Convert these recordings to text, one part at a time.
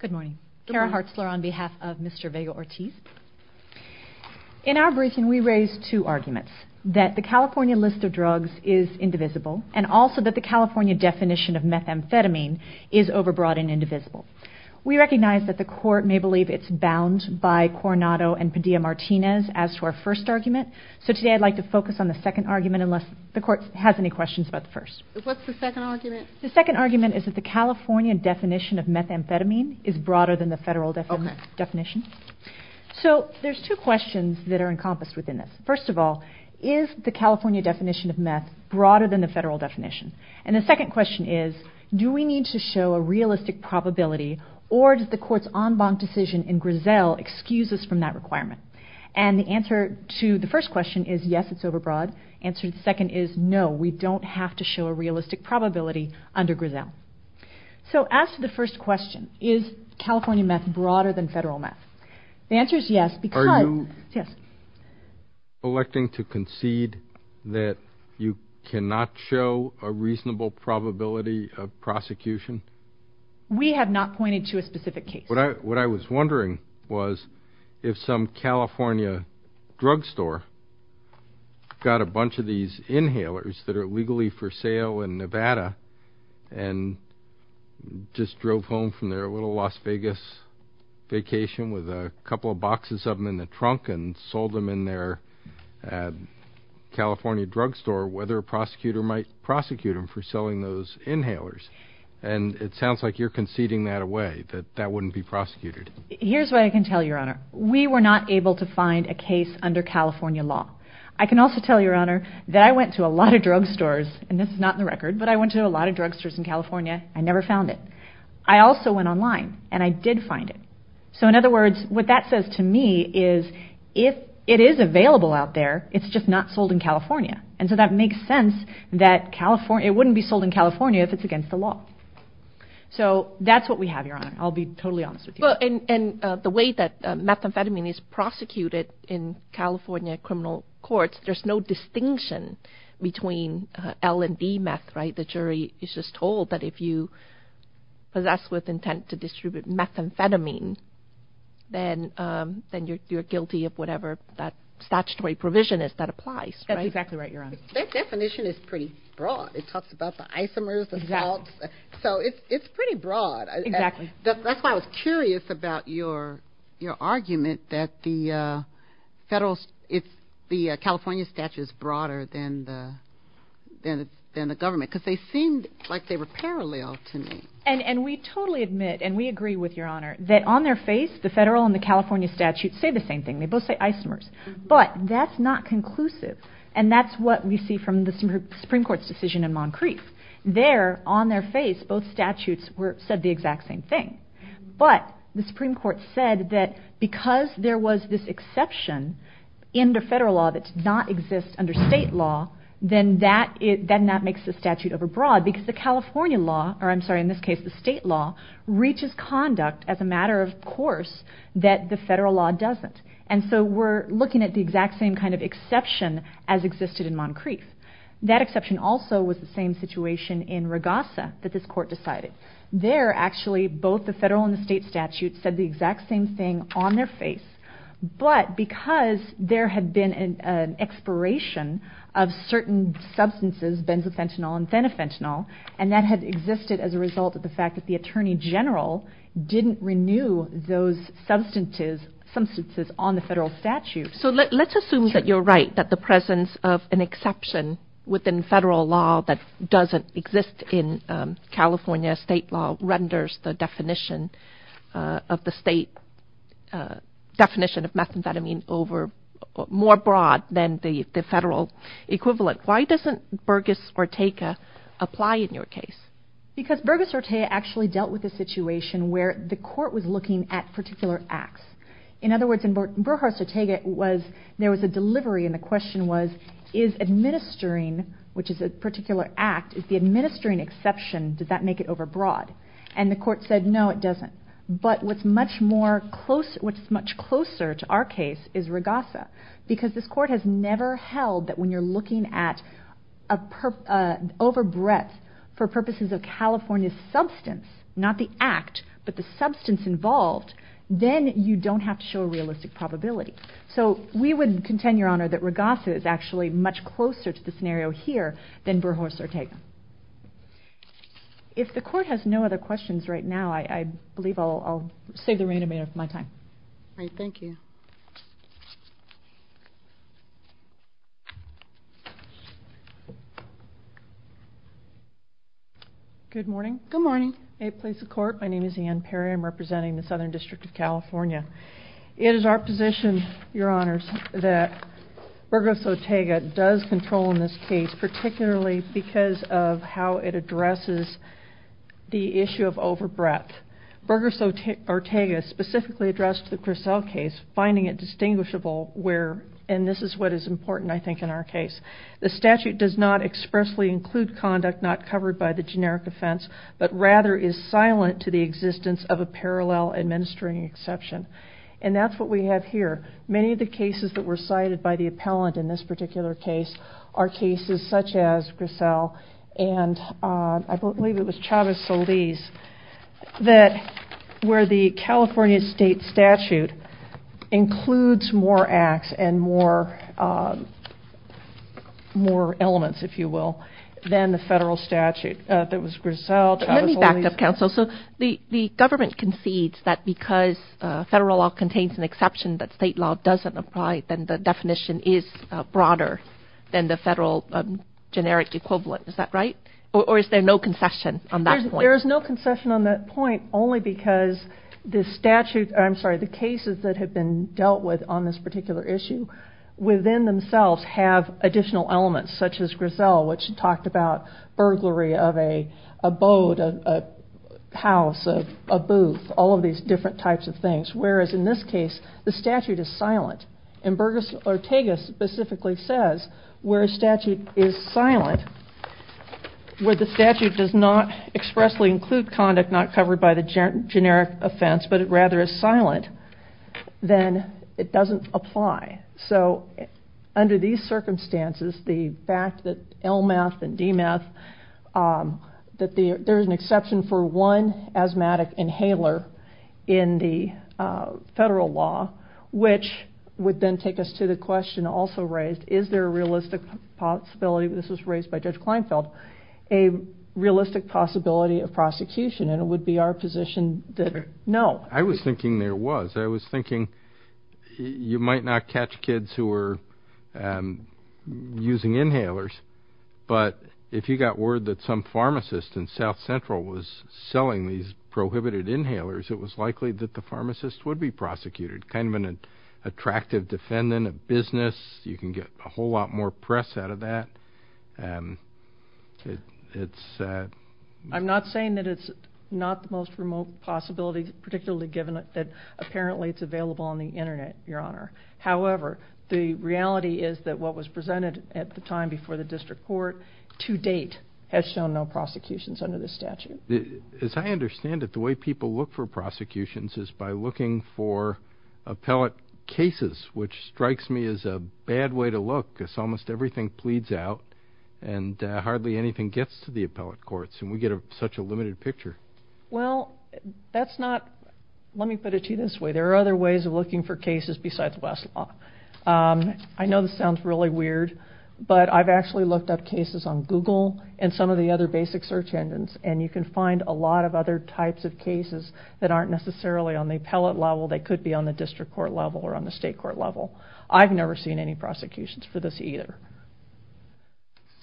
Good morning. Kara Hartzler on behalf of Mr. Vega-Ortiz. In our briefing we raised two arguments, that the California list of drugs is indivisible, and also that the California definition of methamphetamine is overbroad and indivisible. We recognize that the court may believe it's bound by Coronado and Padilla-Martinez as to our first argument, so today I'd like to focus on the second argument unless the court has any questions about the first. What's the second argument? The second argument is that the California definition of methamphetamine is broader than the federal definition. So there's two questions that are encompassed within this. First of all, is the California definition of meth broader than the federal definition? And the second question is, do we need to show a realistic probability, or does the court's en banc decision in Griselle excuse us from that requirement? And the answer to the first question is yes, it's overbroad. The answer to the second is no, we don't have to show a realistic probability under Griselle. So as to the first question, is California meth broader than federal meth? The answer is yes, because... Are you electing to concede that you cannot show a reasonable probability of prosecution? We have not pointed to a specific case. What I was wondering was if some California drugstore got a bunch of these inhalers that are legally for sale in Nevada and just drove home from their little Las Vegas vacation with a couple of boxes of them in the trunk and sold them in their California drugstore, whether a prosecutor might prosecute them for selling those inhalers. And it sounds like you're conceding that away, that that wouldn't be prosecuted. Here's what I can tell you, Your Honor. We were not able to find a case under California law. I can also tell you, Your Honor, that I went to a lot of drugstores, and this is not in the record, but I went to a lot of drugstores in California. I never found it. I also went online, and I did find it. So in other words, what that says to me is if it is available out there, it's just not sold in California. And so that makes sense that it wouldn't be sold in California if it's against the law. So that's what we have, Your Honor. I'll be totally honest with you. And the way that methamphetamine is prosecuted in California criminal courts, there's no distinction between L and D meth, right? The jury is just told that if you possess with intent to distribute methamphetamine, then you're guilty of whatever that statutory provision is that applies, right? That's exactly right, Your Honor. That definition is pretty broad. It talks about the isomers, the salts. Exactly. So it's pretty broad. Exactly. That's why I was curious about your argument that the California statute is broader than the government because they seemed like they were parallel to me. And we totally admit, and we agree with Your Honor, that on their face, the federal and the California statutes say the same thing. They both say isomers. But that's not conclusive. And that's what we see from the Supreme Court's decision in Moncrief. There, on their face, both statutes said the exact same thing. But the Supreme Court said that because there was this exception in the federal law that did not exist under state law, then that makes the statute overbroad because the California law, or I'm sorry, in this case the state law, reaches conduct as a matter of course that the federal law doesn't. And so we're looking at the exact same kind of exception as existed in Moncrief. That exception also was the same situation in Regassa that this court decided. There, actually, both the federal and the state statutes said the exact same thing on their face. But because there had been an expiration of certain substances, benzophentyl and phenophentyl, and that had existed as a result of the fact that benzophentyl didn't renew those substances on the federal statute. So let's assume that you're right, that the presence of an exception within federal law that doesn't exist in California state law renders the definition of the state definition of methamphetamine more broad than the federal equivalent. Why doesn't Burgess-Ortega apply in your case? Because Burgess-Ortega actually dealt with a situation where the court was looking at particular acts. In other words, in Burrhart-Ortega, there was a delivery, and the question was, is administering, which is a particular act, is the administering exception, does that make it overbroad? And the court said, no, it doesn't. But what's much closer to our case is Regassa, because this court has never held that when you're looking at overbreadth for purposes of California's substance, not the act, but the substance involved, then you don't have to show a realistic probability. So we would contend, Your Honor, that Regassa is actually much closer to the scenario here than Burrhart-Ortega. If the court has no other questions right now, I believe I'll save the remainder of my time. All right, thank you. Good morning. Good morning. May it please the Court, my name is Ann Perry. I'm representing the Southern District of California. It is our position, Your Honors, that Burgess-Ortega does control in this case, particularly because of how it addresses the issue of overbreadth. Burgess-Ortega specifically addressed the Grissel case, finding it distinguishable where, and this is what is important, I think, in our case, the statute does not expressly include conduct not covered by the generic offense, but rather is silent to the existence of a parallel administering exception. And that's what we have here. Many of the cases that were cited by the appellant in this particular case are cases such as Grissel, and I believe it was Chavez-Solis where the California state statute includes more acts and more elements, if you will, than the federal statute. That was Grissel, Chavez-Solis. Let me back up, counsel. So the government concedes that because federal law contains an exception that state law doesn't apply, then the definition is broader than the federal generic equivalent. Is that right? Or is there no concession on that point? There is no concession on that point only because the statute, I'm sorry, the cases that have been dealt with on this particular issue within themselves have additional elements, such as Grissel, which talked about burglary of a abode, a house, a booth, all of these different types of things, whereas in this case the statute is silent. And Burgess-Ortega specifically says where a statute is silent, where the statute does not expressly include conduct not covered by the generic offense, but rather is silent, then it doesn't apply. So under these circumstances, the fact that LMATH and DMATH, that there is an exception for one asthmatic inhaler in the federal law, which would then take us to the question also raised, is there a realistic possibility, this was raised by Judge Kleinfeld, a realistic possibility of prosecution, and it would be our position that no. I was thinking there was. I was thinking you might not catch kids who were using inhalers, but if you got word that some pharmacist in South Central was selling these prohibited inhalers, it was likely that the pharmacist would be prosecuted, kind of an attractive defendant of business. You can get a whole lot more press out of that. I'm not saying that it's not the most remote possibility, particularly given that apparently it's available on the Internet, Your Honor. However, the reality is that what was presented at the time before the district court to date has shown no prosecutions under this statute. As I understand it, the way people look for prosecutions is by looking for appellate cases, which strikes me as a bad way to look because almost everything pleads out and hardly anything gets to the appellate courts, and we get such a limited picture. Well, let me put it to you this way. There are other ways of looking for cases besides Westlaw. I know this sounds really weird, but I've actually looked up cases on Google and some of the other basic search engines, and you can find a lot of other types of cases that aren't necessarily on the appellate level. They could be on the district court level or on the state court level. I've never seen any prosecutions for this either.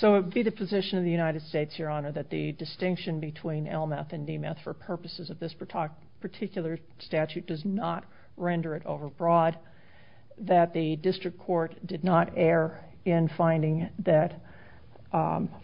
So it would be the position of the United States, Your Honor, that the distinction between LMETH and DMETH for purposes of this particular statute does not render it overbroad, that the district court did not err in finding that,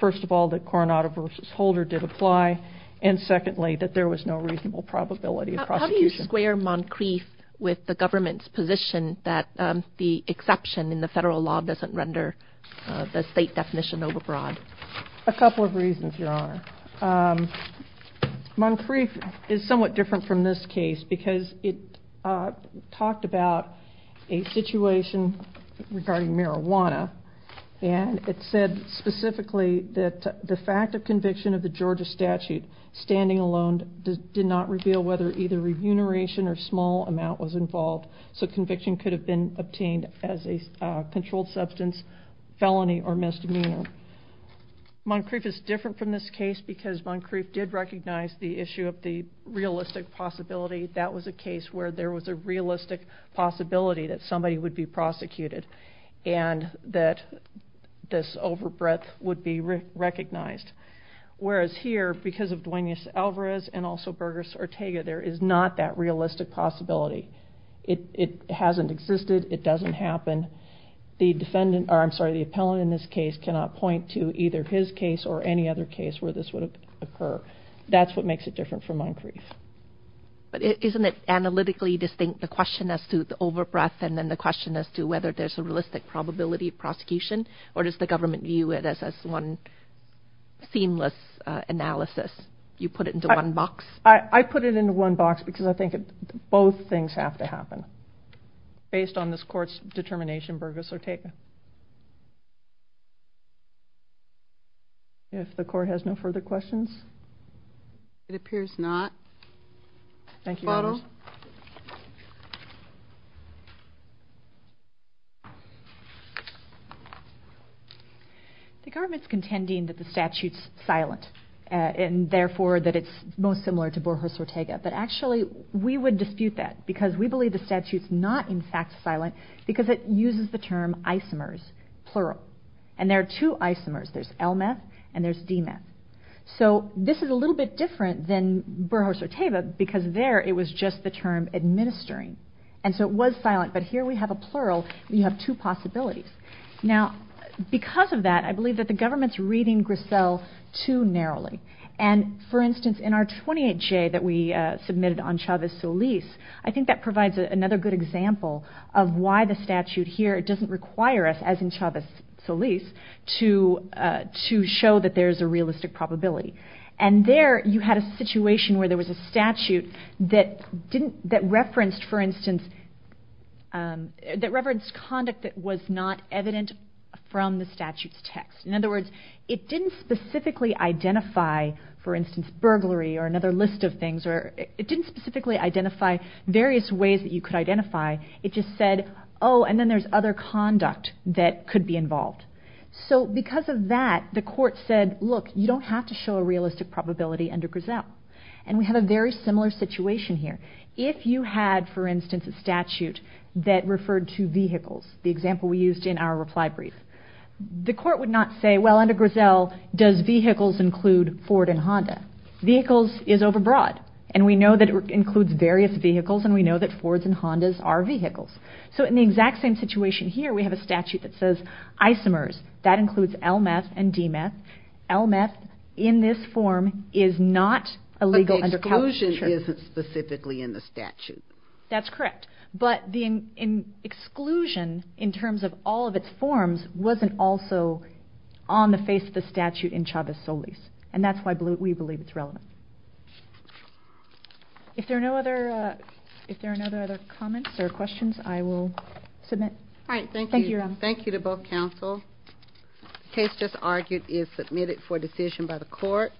first of all, that Coronado v. Holder did apply, and secondly, that there was no reasonable probability of prosecution. How do you square Moncrief with the government's position that the exception in the federal law doesn't render the state definition overbroad? A couple of reasons, Your Honor. Moncrief is somewhat different from this case because it talked about a situation regarding marijuana, and it said specifically that the fact of conviction of the Georgia statute standing alone did not reveal whether either remuneration or small amount was involved, so conviction could have been obtained as a controlled substance felony or misdemeanor. Moncrief is different from this case because Moncrief did recognize the issue of the realistic possibility. That was a case where there was a realistic possibility that somebody would be prosecuted and that this overbreadth would be recognized, whereas here, because of Duenas Alvarez and also Burgos Ortega, there is not that realistic possibility. It hasn't existed. It doesn't happen. The defendant, or I'm sorry, the appellant in this case cannot point to either his case or any other case where this would occur. That's what makes it different from Moncrief. But isn't it analytically distinct, the question as to the overbreadth and then the question as to whether there's a realistic probability of prosecution, or does the government view it as one seamless analysis? You put it into one box? I put it into one box because I think both things have to happen based on this court's determination, Burgos Ortega. If the court has no further questions? It appears not. Thank you. Photo? The government's contending that the statute's silent and therefore that it's most similar to Burgos Ortega, but actually we would dispute that because we believe the statute's not in fact silent because it uses the term isomers, plural. And there are two isomers. There's l-meth and there's d-meth. So this is a little bit different than Burgos Ortega because there it was just the term administering. And so it was silent, but here we have a plural. You have two possibilities. Now, because of that, I believe that the government's reading Grissel too narrowly. And, for instance, in our 28J that we submitted on Chavez-Solis, I think that provides another good example of why the statute here doesn't require us, as in Chavez-Solis, to show that there's a realistic probability. And there you had a situation where there was a statute that referenced, for instance, that referenced conduct that was not evident from the statute's text. In other words, it didn't specifically identify, for instance, burglary or another list of things. It didn't specifically identify various ways that you could identify. It just said, oh, and then there's other conduct that could be involved. So because of that, the court said, look, you don't have to show a realistic probability under Grissel. And we have a very similar situation here. If you had, for instance, a statute that referred to vehicles, the example we used in our reply brief, the court would not say, well, under Grissel, does vehicles include Ford and Honda? Vehicles is overbroad. And we know that it includes various vehicles, and we know that Fords and Hondas are vehicles. So in the exact same situation here, we have a statute that says isomers. That includes LMF and DMF. LMF, in this form, is not a legal undercover. The exclusion isn't specifically in the statute. That's correct. But the exclusion, in terms of all of its forms, wasn't also on the face of the statute in Chavez-Solis. And that's why we believe it's relevant. If there are no other comments or questions, I will submit. All right, thank you. Thank you to both counsel. The case just argued is submitted for decision by the court.